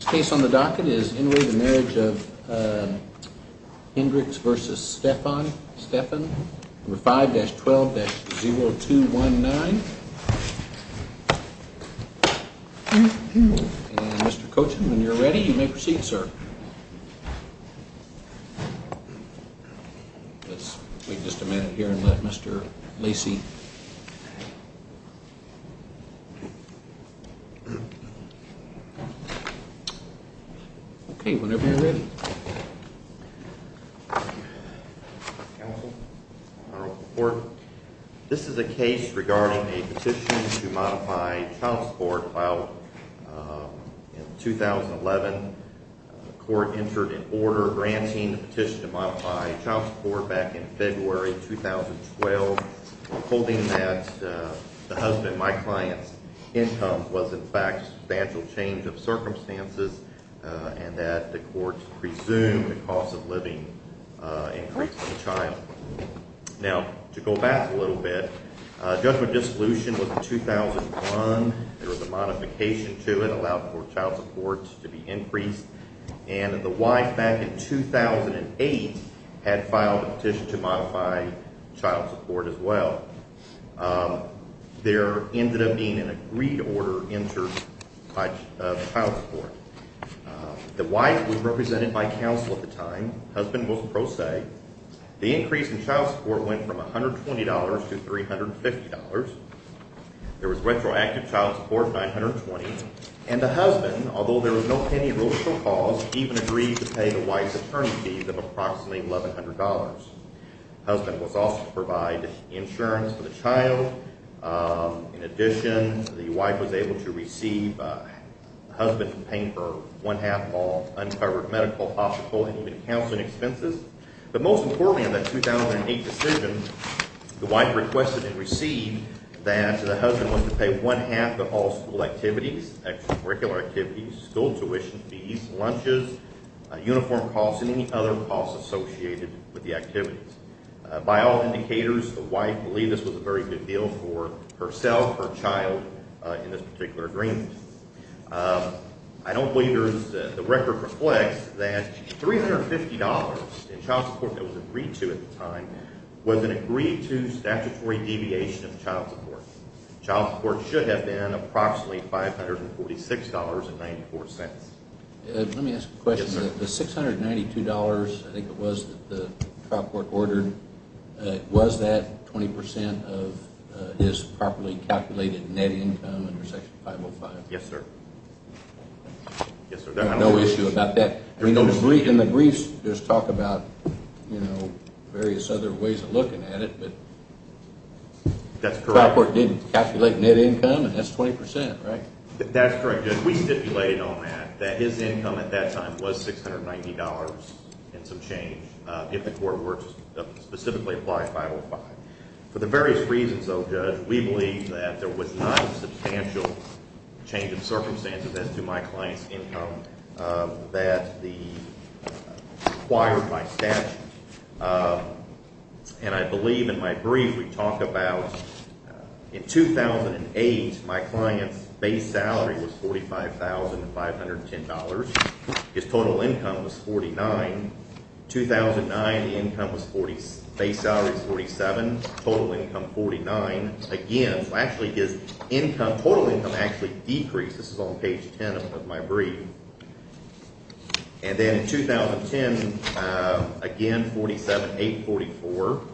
Case on the docket is in the marriage of, uh, Hendricks versus Stefan. Stefan number five. There's 12 0 2 1 9. Mr Coaching, when you're ready, you may proceed, sir. Let's wait just a minute here and let Mr Lacey Okay, whenever you're ready, Or this is a case regarding a petition to modify child support filed in 2011. Court entered an order granting petition to modify child support back in February 2012. Holding that the husband, my client's income was, in fact, substantial change of circumstances and that the courts presumed the cost of living increase the child. Now, to go back a little bit, uh, judgment. Dissolution was 2001. There was a modification to it allowed for child support to be increased. And the wife back in 2008 had filed a petition to modify child support as well. Um, there ended up being an agreed order entered by child support. The wife was represented by council at the time. Husband was pro se. The increase in child support went from $120 to $350. There was retroactive child support, 920. And the husband, although there was no penny rules for cause, even agreed to pay the wife's attorney fees of approximately $1100. Husband was also provide insurance for the child. Um, in addition, the wife was able to receive, uh, husband paying for one half all uncovered medical, hospital and even counseling expenses. But most importantly in that 2008 decision, the wife requested and received that the husband was to pay one half of all school activities, extracurricular activities, school tuition fees, lunches, uniform costs and any other costs associated with the activities. Uh, by all indicators, the wife believed this was a very good deal for herself, her child, uh, in this particular agreement. Um, I don't believe there's the record reflects that $350 in child support that was agreed to at the time was an agreed to statutory deviation of child support. Child support should have been approximately $546.94. Let me ask a question. The $692, I think it was that the trial court ordered, was that 20% of his properly calculated net income under Section 505? Yes, sir. No issue about that? I mean, in the briefs, there's talk about, you know, various other ways of looking at it, but the trial court didn't calculate net income, and that's 20%, right? That's correct, Judge. We stipulated on that, that his income at that time was $690 and some change, uh, if the court were to specifically apply 505. For the various reasons, though, Judge, we believe that there was not a substantial change of circumstances as to my client's income, uh, that the required by statute. And I believe in my brief, we talk about in 2008, my client's base salary was $45,510. His total income was $49,000. 2009, the income was $47,000. Base salary was $47,000. Total income, $49,000. Again, so actually his income, total income actually decreased. This is on page 10 of my brief. And then 2010, again, $47,000, $48,000, $44,000.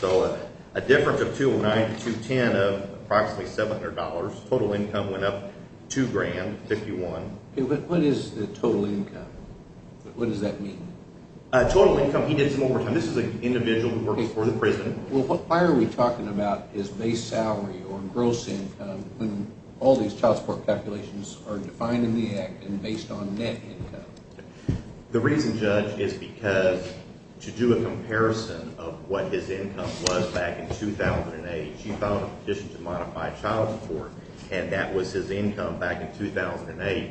So a difference of $209, $210 of approximately $700. Total income went up $2,000, $51,000. Okay, but what is the total income? What does that mean? Uh, total income, he did it one more time. This is an individual who works for the prison. Well, why are we talking about his base salary or gross income when all these child support calculations are defined in the act and based on net income? The reason, Judge, is because to do a comparison of what his income was back in 2008, he filed a petition to modify child support, and that was his income back in 2008.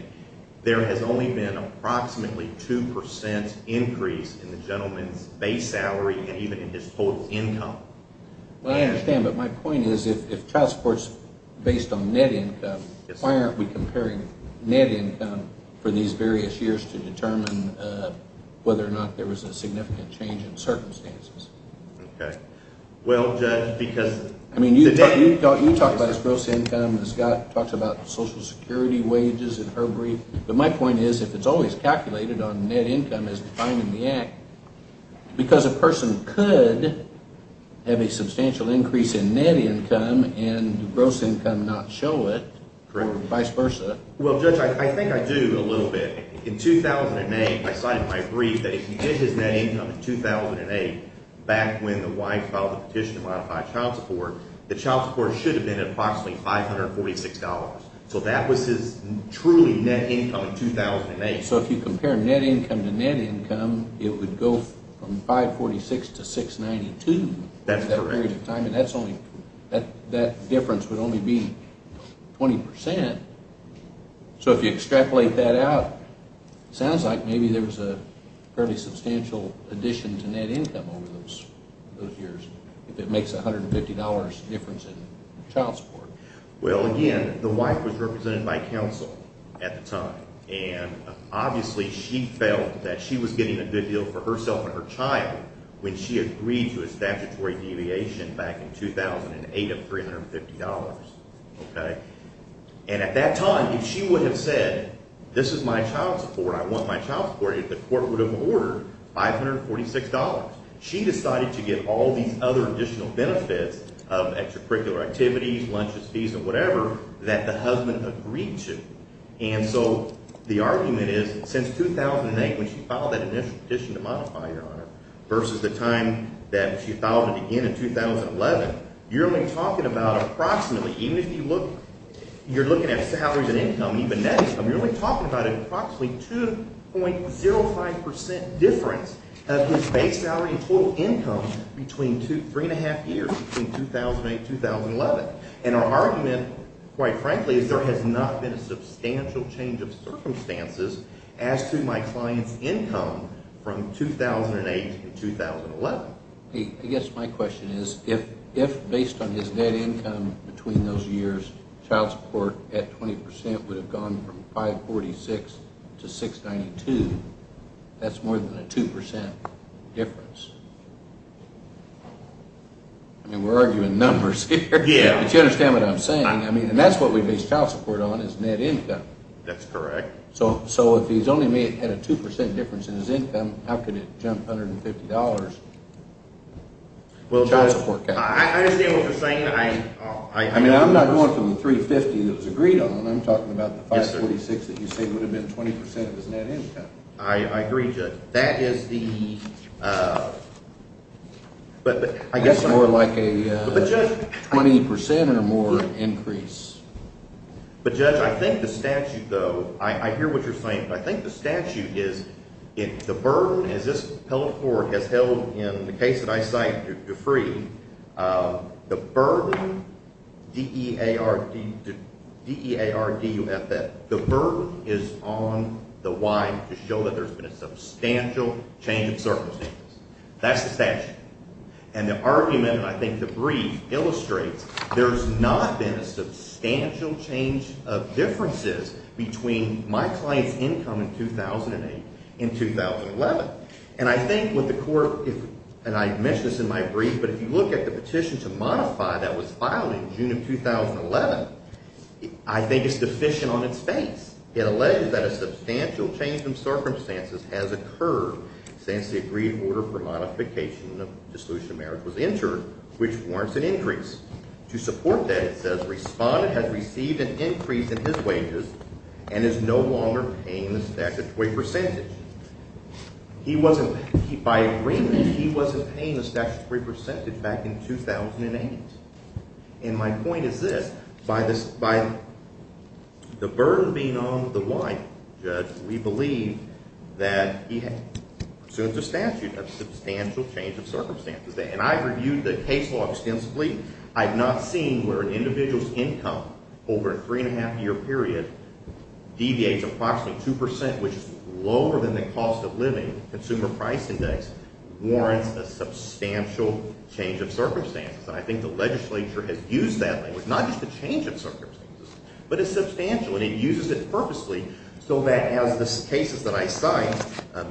There has only been approximately 2% increase in the gentleman's base salary and even in his total income. Well, I understand, but my point is if child support is based on net income, why aren't we comparing net income for these various years to determine whether or not there was a significant change in circumstances? Okay. Well, Judge, because – I mean, you talked about his gross income. Scott talked about social security wages and herbary. But my point is if it's always calculated on net income as defined in the act, because a person could have a substantial increase in net income and gross income not show it or vice versa. Well, Judge, I think I do a little bit. In 2008, I cited my brief that if he did his net income in 2008 back when the wife filed the petition to modify child support, the child support should have been at approximately $546. So that was his truly net income in 2008. Okay. So if you compare net income to net income, it would go from $546 to $692. That's correct. And that's only – that difference would only be 20%. So if you extrapolate that out, it sounds like maybe there was a fairly substantial addition to net income over those years if it makes $150 difference in child support. Well, again, the wife was represented by counsel at the time, and obviously she felt that she was getting a good deal for herself and her child when she agreed to a statutory deviation back in 2008 of $350. Okay. And at that time, if she would have said this is my child support, I want my child support, the court would have ordered $546. She decided to get all these other additional benefits of extracurricular activities, lunches, fees, and whatever that the husband agreed to. And so the argument is since 2008 when she filed that initial petition to modify, Your Honor, versus the time that she filed it again in 2011, you're only talking about approximately – even if you look – you're looking at salaries and income, even net income. You're only talking about approximately 2.05% difference of his base salary and total income between three and a half years, between 2008 and 2011. And our argument, quite frankly, is there has not been a substantial change of circumstances as to my client's income from 2008 to 2011. I guess my question is if based on his net income between those years, child support at 20% would have gone from $546 to $692, that's more than a 2% difference. I mean, we're arguing numbers here. Yeah. But you understand what I'm saying? I mean, and that's what we base child support on is net income. That's correct. So if he's only made – had a 2% difference in his income, how could it jump $150? Child support – Well, Judge, I understand what you're saying. I – I mean, I'm not going from the 350 that was agreed on. I'm talking about the 546 that you say would have been 20% of his net income. I agree, Judge. That is the – but I guess – That's more like a 20% or more increase. But, Judge, I think the statute, though – I hear what you're saying, but I think the statute is the burden, as this appellate court has held in the case that I cite, Dufry, the burden – D-E-A-R-D – D-E-A-R-D-U-F-F – the burden is on the why to show that there's been a substantial change of circumstances. That's the statute. And the argument, and I think the brief, illustrates there's not been a substantial change of differences between my client's income in 2008 and 2011. And I think what the court – and I mentioned this in my brief, but if you look at the petition to modify that was filed in June of 2011, I think it's deficient on its face. It alleges that a substantial change in circumstances has occurred since the agreed order for modification of dissolution of merits was entered, which warrants an increase. To support that, it says respondent has received an increase in his wages and is no longer paying the statutory percentage. He wasn't – by agreement, he wasn't paying the statutory percentage back in 2008. And my point is this. By the burden being on the why, Judge, we believe that he pursues a statute of substantial change of circumstances. And I've reviewed the case law extensively. I've not seen where an individual's income over a three-and-a-half-year period deviates approximately 2 percent, which is lower than the cost of living. The Consumer Price Index warrants a substantial change of circumstances. And I think the legislature has used that language, not just the change of circumstances, but it's substantial. And it uses it purposely so that as the cases that I cite,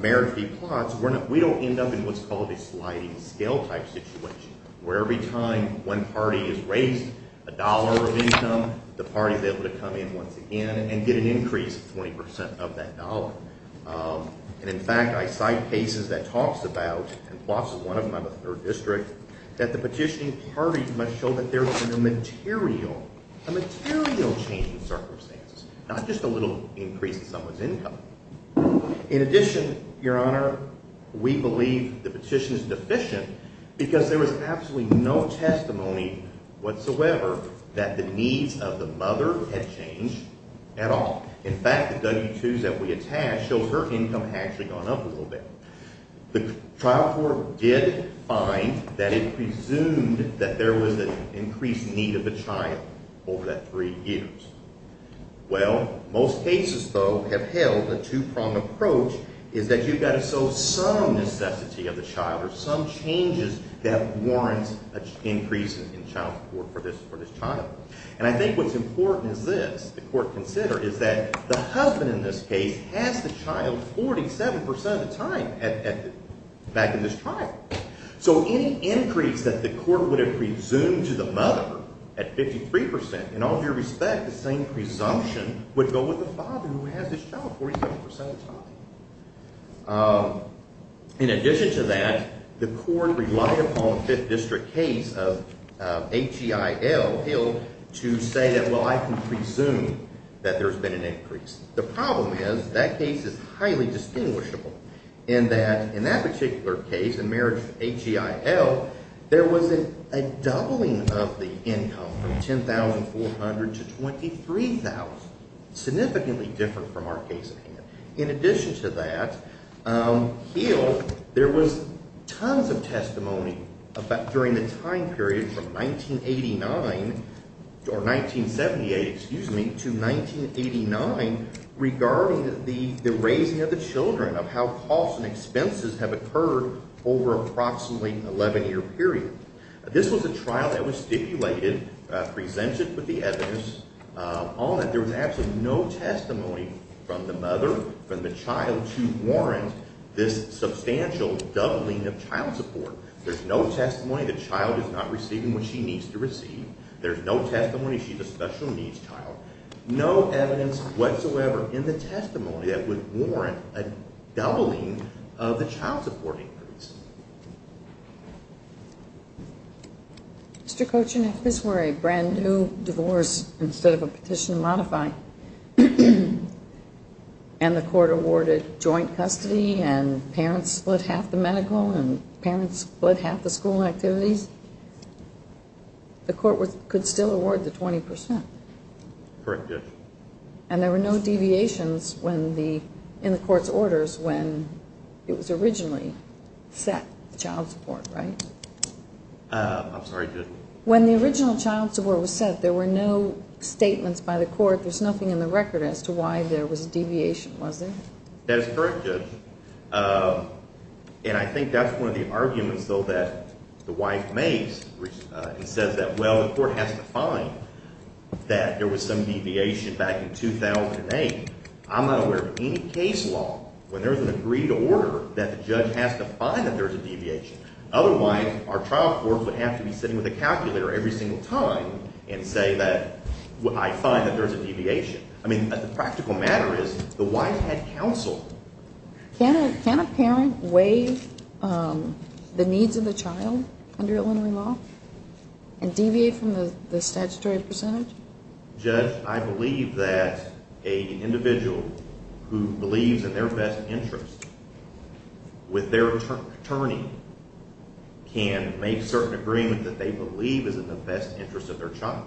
merit-free plots, we don't end up in what's called a sliding scale type situation, where every time one party is raised a dollar of income, the party is able to come in once again and get an increase of 20 percent of that dollar. And in fact, I cite cases that talks about – and Plotts is one of them, I'm a third district – that the petitioning parties must show that there has been a material, a material change of circumstances, not just a little increase in someone's income. In addition, Your Honor, we believe the petition is deficient because there was absolutely no testimony whatsoever that the needs of the mother had changed at all. In fact, the W-2s that we attach show her income had actually gone up a little bit. The trial court did find that it presumed that there was an increased need of the child over that three years. Well, most cases, though, have held a two-pronged approach, is that you've got to show some necessity of the child or some changes that warrant an increase in child support for this child. And I think what's important is this, the court considered, is that the husband in this case has the child 47 percent of the time back in this trial. So any increase that the court would have presumed to the mother at 53 percent, in all due respect, the same presumption would go with the father who has this child 47 percent of the time. In addition to that, the court relied upon a Fifth District case of H-E-I-L Hill to say that, well, I can presume that there's been an increase. The problem is that case is highly distinguishable in that in that particular case, in marriage of H-E-I-L, there was a doubling of the income from $10,400 to $23,000, significantly different from our case at hand. In addition to that, Hill, there was tons of testimony during the time period from 1989 or 1978, excuse me, to 1989 regarding the raising of the children, of how costs and expenses have occurred over approximately an 11-year period. This was a trial that was stipulated, presented with the evidence on it. There was absolutely no testimony from the mother, from the child, to warrant this substantial doubling of child support. There's no testimony the child is not receiving what she needs to receive. There's no testimony she's a special needs child. No evidence whatsoever in the testimony that would warrant a doubling of the child support increase. Mr. Cochin, if this were a brand-new divorce instead of a petition to modify, and the court awarded joint custody and parents split half the medical and parents split half the school activities, the court could still award the 20 percent. Correct, yes. And there were no deviations in the court's orders when it was originally set, the child support, right? I'm sorry, Judge? When the original child support was set, there were no statements by the court, there's nothing in the record as to why there was a deviation, was there? That is correct, Judge. And I think that's one of the arguments, though, that the wife makes and says that, well, the court has to find that there was some deviation back in 2008. I'm not aware of any case law where there's an agreed order that the judge has to find that there's a deviation. Otherwise, our trial court would have to be sitting with a calculator every single time and say that I find that there's a deviation. I mean, the practical matter is the wife had counsel. Can a parent weigh the needs of the child under Illinois law and deviate from the statutory percentage? Judge, I believe that an individual who believes in their best interest with their attorney can make certain agreements that they believe is in the best interest of their child.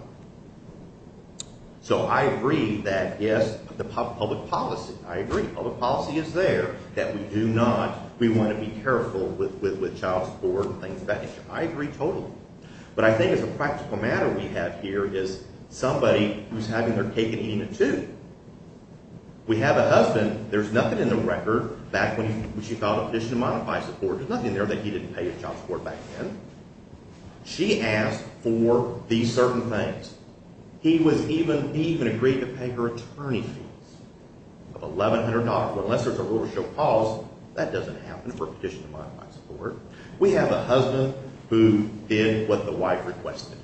So I agree that, yes, the public policy, I agree, public policy is there, that we do not, we want to be careful with child support and things of that nature. I agree totally. But I think as a practical matter we have here is somebody who's having their cake and eating it too. We have a husband, there's nothing in the record back when she filed a petition to modify support, there's nothing there that he didn't pay his child support back then. She asked for these certain things. He even agreed to pay her attorney fees of $1,100. Well, unless there's a rule to show cause, that doesn't happen for a petition to modify support. We have a husband who did what the wife requested.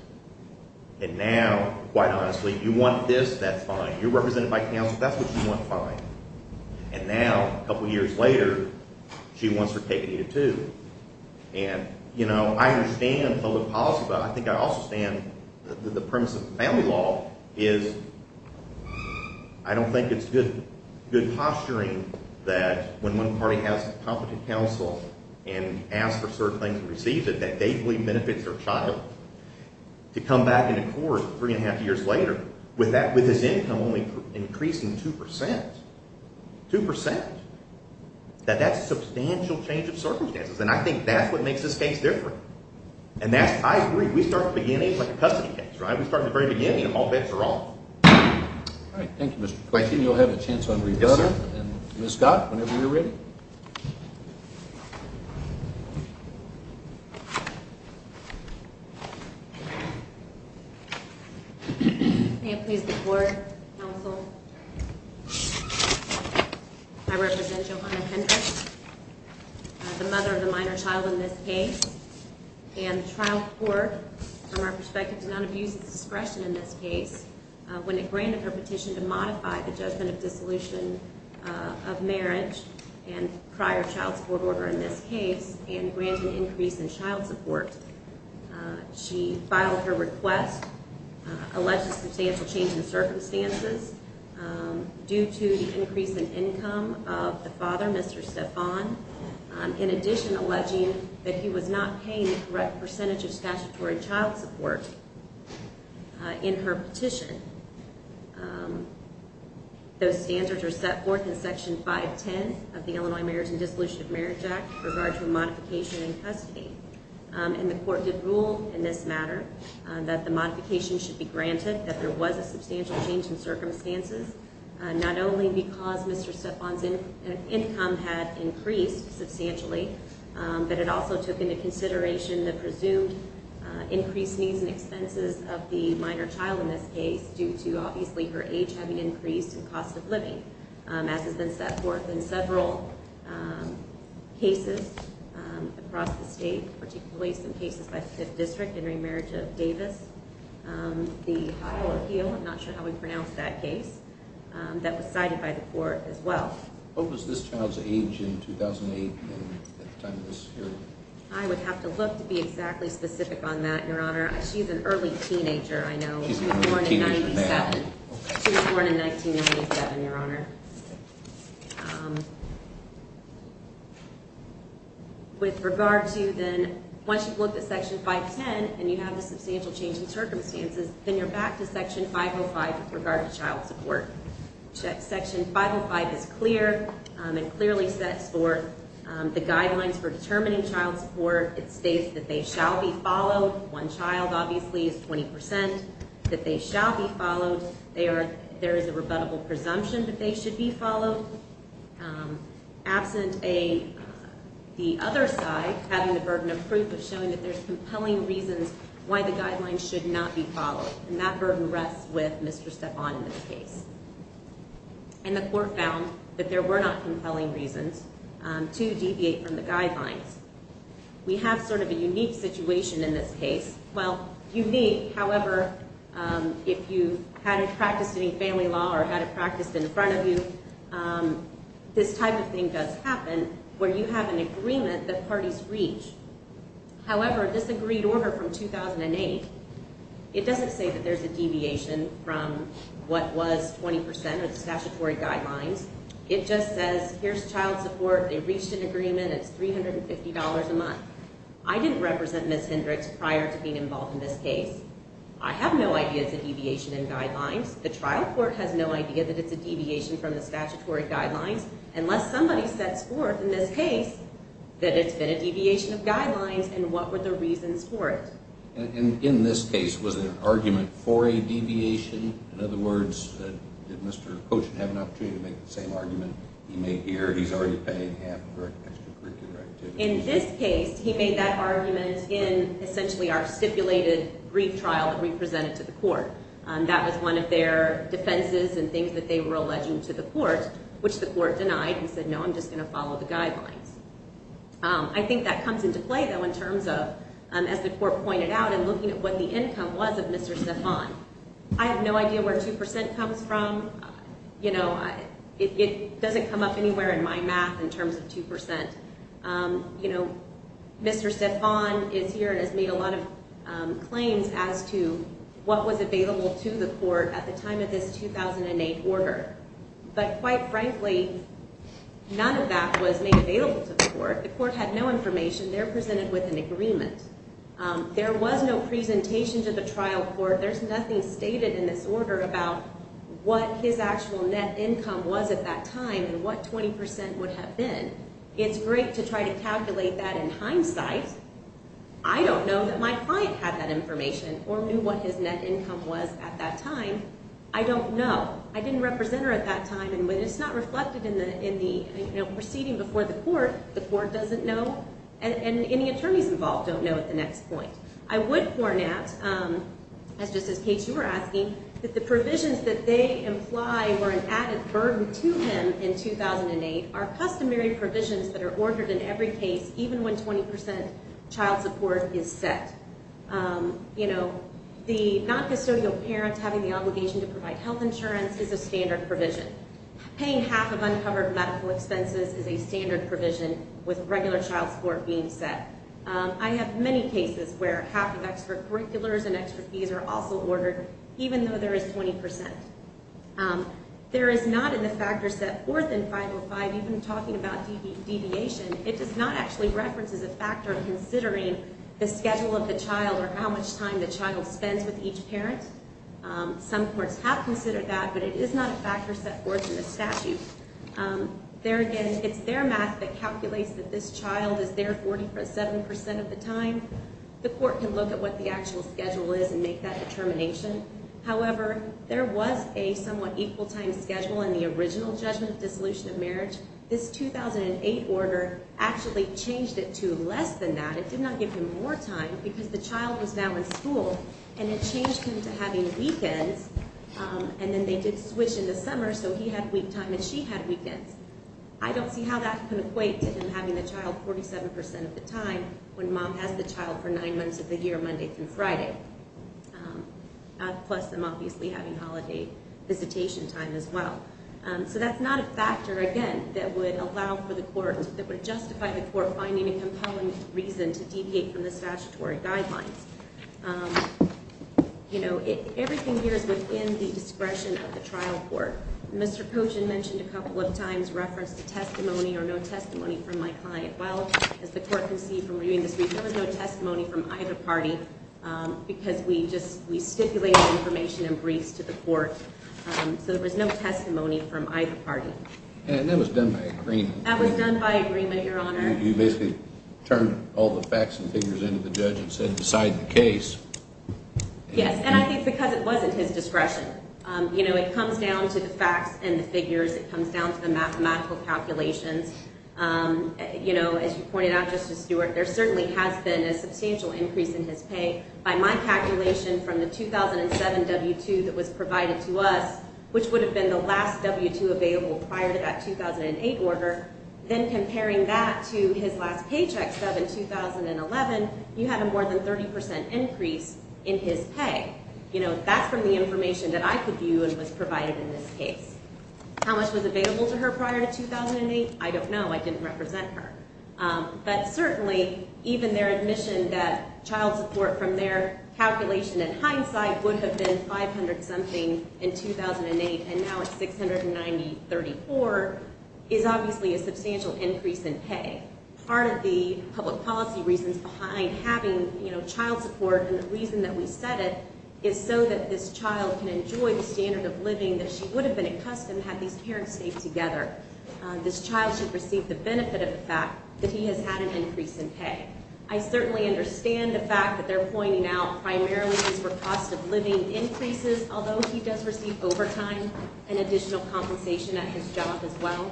And now, quite honestly, you want this, that's fine. You're represented by counsel, that's what you want, fine. And now, a couple years later, she wants her cake and eat it too. And, you know, I understand public policy, but I think I also understand the premise of family law is I don't think it's good posturing that when one party has competent counsel and asks for certain things and receives it that they believe benefits their child. To come back into court three and a half years later with that, with his income only increasing 2%, 2%. That that's a substantial change of circumstances. And I think that's what makes this case different. And that's I agree. We start the beginning like a custody case, right? We start the very beginning of all bets are off. Thank you. You'll have a chance when we got her. Whenever you're ready. Please support. I represent. The mother of the minor child in this case. And the trial for our perspective to not abuse discretion in this case, when it granted her petition to modify the judgment of dissolution of marriage and prior child support order in this case, and granting increase in child support. She filed her request. Alleged substantial change in circumstances. Due to the increase in income of the father, Mr. In addition, alleging that he was not paying the correct percentage of statutory child support. In her petition. Those standards are set forth in section 510 of the Illinois marriage and disillusioned marriage act. Regardless of modification and custody, and the court did rule in this matter that the modification should be granted that there was a substantial change in circumstances. Not only because Mr. income had increased substantially. But it also took into consideration the presumed increased needs and expenses of the minor child in this case, due to obviously her age having increased and cost of living. In several cases across the state, particularly some cases by 5th district and remarriage of Davis. I'm not sure how we pronounce that case. That was cited by the court as well. What was this child's age in 2008? I would have to look to be exactly specific on that. Your honor. She's an early teenager. I know she's born in 1997. Your honor. With regard to then, once you've looked at section 510, and you have a substantial change in circumstances, then you're back to section 505 with regard to child support. Section 505 is clear and clearly sets forth the guidelines for determining child support. It states that they shall be followed. One child obviously is 20%. That they shall be followed. There is a rebuttable presumption that they should be followed. Absent the other side having the burden of proof of showing that there's compelling reasons why the guidelines should not be followed. And that burden rests with Mr. Stephan in this case. And the court found that there were not compelling reasons to deviate from the guidelines. We have sort of a unique situation in this case. Well, unique, however, if you hadn't practiced any family law or had it practiced in front of you, this type of thing does happen where you have an agreement that parties reach. However, this agreed order from 2008, it doesn't say that there's a deviation from what was 20% of the statutory guidelines. It just says, here's child support. They reached an agreement. It's $350 a month. I didn't represent Ms. Hendricks prior to being involved in this case. I have no idea it's a deviation in guidelines. The trial court has no idea that it's a deviation from the statutory guidelines. Unless somebody sets forth in this case that it's been a deviation of guidelines and what were the reasons for it. And in this case, was it an argument for a deviation? In other words, did Mr. Koshin have an opportunity to make the same argument he made here? He's already paying half for extracurricular activities. In this case, he made that argument in essentially our stipulated brief trial that we presented to the court. That was one of their defenses and things that they were alleging to the court, which the court denied. He said, no, I'm just going to follow the guidelines. I think that comes into play, though, in terms of, as the court pointed out, in looking at what the income was of Mr. Stephan. I have no idea where 2% comes from. You know, it doesn't come up anywhere in my math in terms of 2%. You know, Mr. Stephan is here and has made a lot of claims as to what was available to the court at the time of this 2008 order. But quite frankly, none of that was made available to the court. The court had no information. They're presented with an agreement. There was no presentation to the trial court. There's nothing stated in this order about what his actual net income was at that time and what 20% would have been. It's great to try to calculate that in hindsight. I don't know that my client had that information or knew what his net income was at that time. I don't know. I didn't represent her at that time. And when it's not reflected in the proceeding before the court, the court doesn't know. And any attorneys involved don't know at the next point. I would point out, just as Kate, you were asking, that the provisions that they imply were an added burden to him in 2008 are customary provisions that are ordered in every case, even when 20% child support is set. You know, the non-custodial parent having the obligation to provide health insurance is a standard provision. Paying half of uncovered medical expenses is a standard provision with regular child support being set. I have many cases where half of extra curriculars and extra fees are also ordered, even though there is 20%. There is not in the factor set forth in 505, even talking about deviation, it does not actually reference as a factor considering the schedule of the child or how much time the child spends with each parent. Some courts have considered that, but it is not a factor set forth in the statute. There again, it's their math that calculates that this child is there 47% of the time. The court can look at what the actual schedule is and make that determination. However, there was a somewhat equal time schedule in the original judgment of dissolution of marriage. This 2008 order actually changed it to less than that. It did not give him more time because the child was now in school, and it changed him to having weekends. And then they did switch in the summer, so he had week time and she had weekends. I don't see how that can equate to him having the child 47% of the time when mom has the child for nine months of the year, Monday through Friday. Plus them obviously having holiday visitation time as well. So that's not a factor, again, that would allow for the court, that would justify the court finding a compelling reason to deviate from the statutory guidelines. You know, everything here is within the discretion of the trial court. Mr. Potion mentioned a couple of times reference to testimony or no testimony from my client. Well, as the court can see from reviewing this brief, there was no testimony from either party because we just, we stipulated information in briefs to the court. So there was no testimony from either party. And that was done by agreement. That was done by agreement, Your Honor. You basically turned all the facts and figures into the judge and said decide the case. Yes, and I think because it wasn't his discretion. You know, it comes down to the facts and the figures. It comes down to the mathematical calculations. You know, as you pointed out, Justice Stewart, there certainly has been a substantial increase in his pay. By my calculation from the 2007 W-2 that was provided to us, which would have been the last W-2 available prior to that 2008 order. Then comparing that to his last paycheck stub in 2011, you have a more than 30% increase in his pay. You know, that's from the information that I could view and was provided in this case. How much was available to her prior to 2008? I don't know. I didn't represent her. But certainly, even their admission that child support from their calculation in hindsight would have been 500-something in 2008, and now it's 690.34 is obviously a substantial increase in pay. Part of the public policy reasons behind having, you know, child support and the reason that we set it is so that this child can enjoy the standard of living that she would have been accustomed had these parents stayed together. This child should receive the benefit of the fact that he has had an increase in pay. I certainly understand the fact that they're pointing out primarily these were cost-of-living increases, although he does receive overtime and additional compensation at his job as well.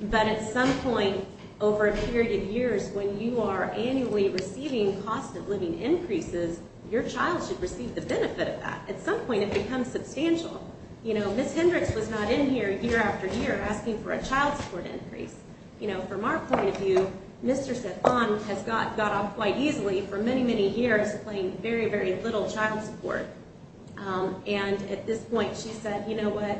But at some point over a period of years, when you are annually receiving cost-of-living increases, your child should receive the benefit of that. At some point, it becomes substantial. You know, Ms. Hendricks was not in here year after year asking for a child support increase. You know, from our point of view, Mr. Cephan has got off quite easily for many, many years playing very, very little child support. And at this point, she said, you know what,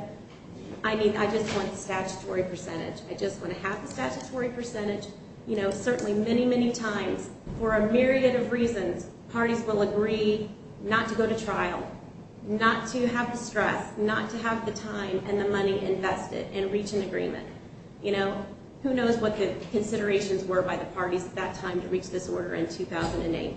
I mean, I just want the statutory percentage. I just want to have the statutory percentage. You know, certainly many, many times, for a myriad of reasons, parties will agree not to go to trial, not to have the stress, not to have the time and the money invested and reach an agreement. You know, who knows what the considerations were by the parties at that time to reach this order in 2008.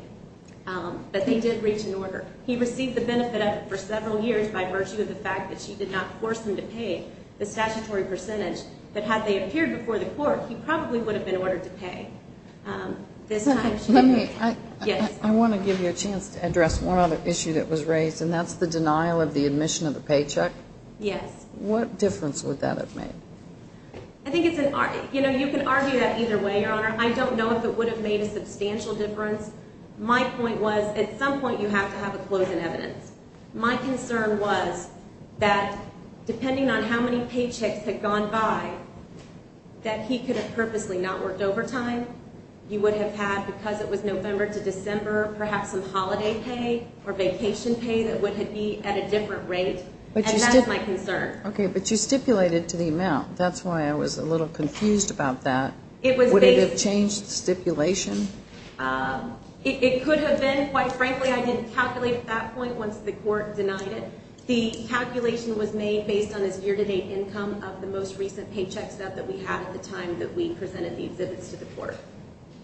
But they did reach an order. He received the benefit of it for several years by virtue of the fact that she did not force him to pay the statutory percentage. But had they appeared before the court, he probably would have been ordered to pay. I want to give you a chance to address one other issue that was raised, and that's the denial of the admission of the paycheck. Yes. What difference would that have made? I think it's an – you know, you can argue that either way, Your Honor. I don't know if it would have made a substantial difference. My point was, at some point, you have to have a closing evidence. My concern was that, depending on how many paychecks had gone by, that he could have purposely not worked overtime. He would have had, because it was November to December, perhaps some holiday pay or vacation pay that would have been at a different rate. And that's my concern. Okay. But you stipulated to the amount. That's why I was a little confused about that. Would it have changed the stipulation? It could have been. Quite frankly, I didn't calculate at that point once the court denied it. The calculation was made based on his year-to-date income of the most recent paycheck stub that we had at the time that we presented the exhibits to the court.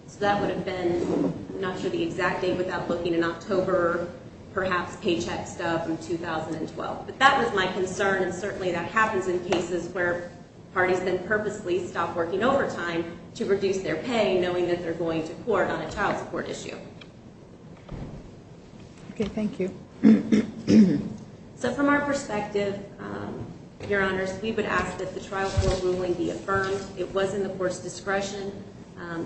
So that would have been, I'm not sure the exact date without looking, in October, perhaps paycheck stub in 2012. But that was my concern, and certainly that happens in cases where parties then purposely stop working overtime to reduce their pay, knowing that they're going to court on a child support issue. Okay. Thank you. So from our perspective, Your Honors, we would ask that the trial floor ruling be affirmed. It was in the court's discretion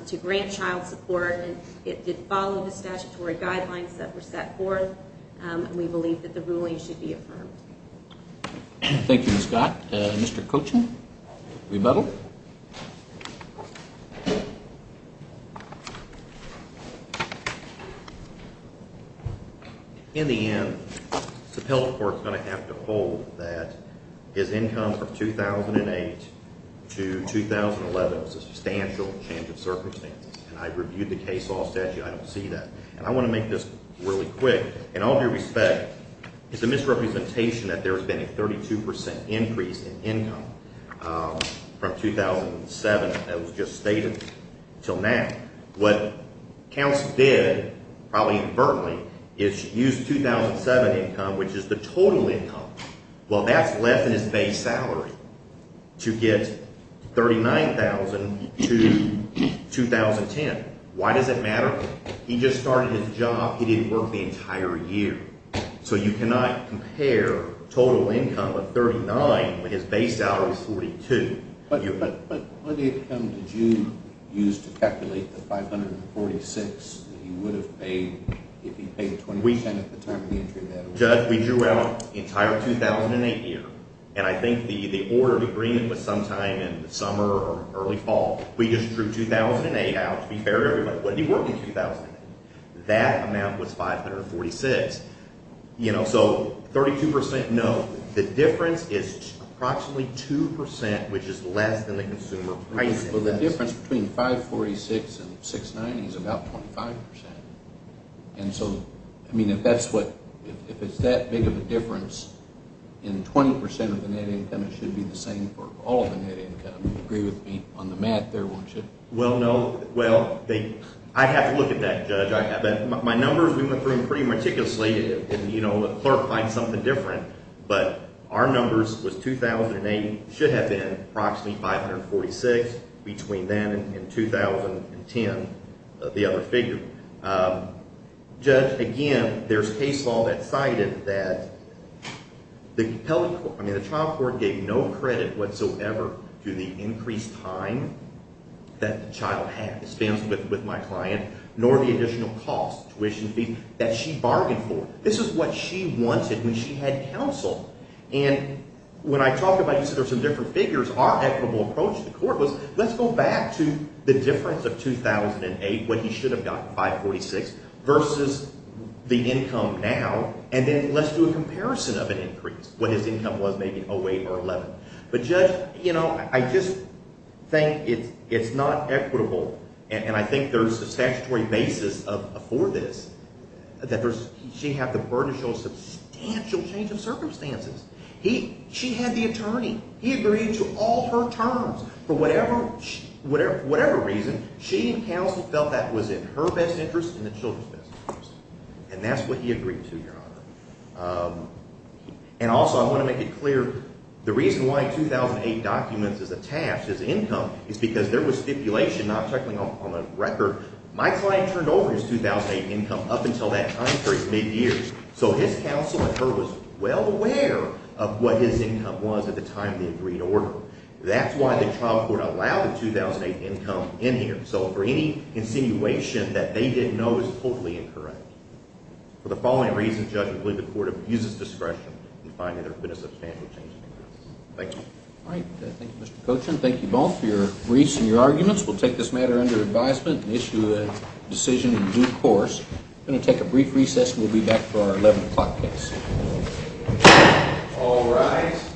to grant child support, and it did follow the statutory guidelines that were set forth. And we believe that the ruling should be affirmed. Thank you, Scott. Mr. Cochin, rebuttal. In the end, the appellate court is going to have to hold that his income from 2008 to 2011 was a substantial change of circumstances. And I reviewed the case law statute. I don't see that. And I want to make this really quick. In all due respect, it's a misrepresentation that there's been a 32 percent increase in income from 2007 that was just stated until now. What counsel did, probably inadvertently, is use 2007 income, which is the total income. Well, that's left in his base salary to get $39,000 to 2010. Why does it matter? He just started his job. He didn't work the entire year. So you cannot compare total income of $39,000 when his base salary is $42,000. But what income did you use to calculate the $546,000 that he would have paid if he paid 20 percent at the time of the entry? Judge, we drew out the entire 2008 year. And I think the order of agreement was sometime in the summer or early fall. We just drew 2008 out, to be fair to everybody. But he worked in 2008. That amount was $546,000. So 32 percent, no. The difference is approximately 2 percent, which is less than the consumer price. Well, the difference between $546,000 and $690,000 is about 25 percent. And so, I mean, if that's what – if it's that big of a difference in 20 percent of the net income, it should be the same for all of the net income. You agree with me on the math there, won't you? Well, no. Well, I'd have to look at that, Judge. My numbers, we went through them pretty meticulously, and the clerk finds something different. But our numbers was 2008 should have been approximately $546,000 between then and 2010, the other figure. Judge, again, there's case law that cited that the child court gave no credit whatsoever to the increased time that the child had, the spends with my client, nor the additional costs, tuition fees, that she bargained for. This is what she wanted when she had counsel. And when I talk about – you said there's some different figures. Our equitable approach to the court was let's go back to the difference of 2008, what he should have gotten, $546,000, versus the income now, and then let's do a comparison of an increase, what his income was, maybe 08 or 11. But, Judge, I just think it's not equitable, and I think there's a statutory basis for this, that she had the burden to show a substantial change of circumstances. She had the attorney. He agreed to all her terms. For whatever reason, she and counsel felt that was in her best interest and the children's best interest, and that's what he agreed to, Your Honor. And also, I want to make it clear, the reason why 2008 documents is attached as income is because there was stipulation not checking on the record. My client turned over his 2008 income up until that time period, mid-years, so his counsel and her was well aware of what his income was at the time of the agreed order. That's why the child court allowed the 2008 income in here. So for any insinuation that they didn't know is totally incorrect. For the following reasons, Judge, I believe the court abuses discretion in finding there could have been a substantial change in the process. Thank you. All right. Thank you, Mr. Cochin. Thank you both for your briefs and your arguments. We'll take this matter under advisement and issue a decision in due course. I'm going to take a brief recess, and we'll be back for our 11 o'clock case. All rise.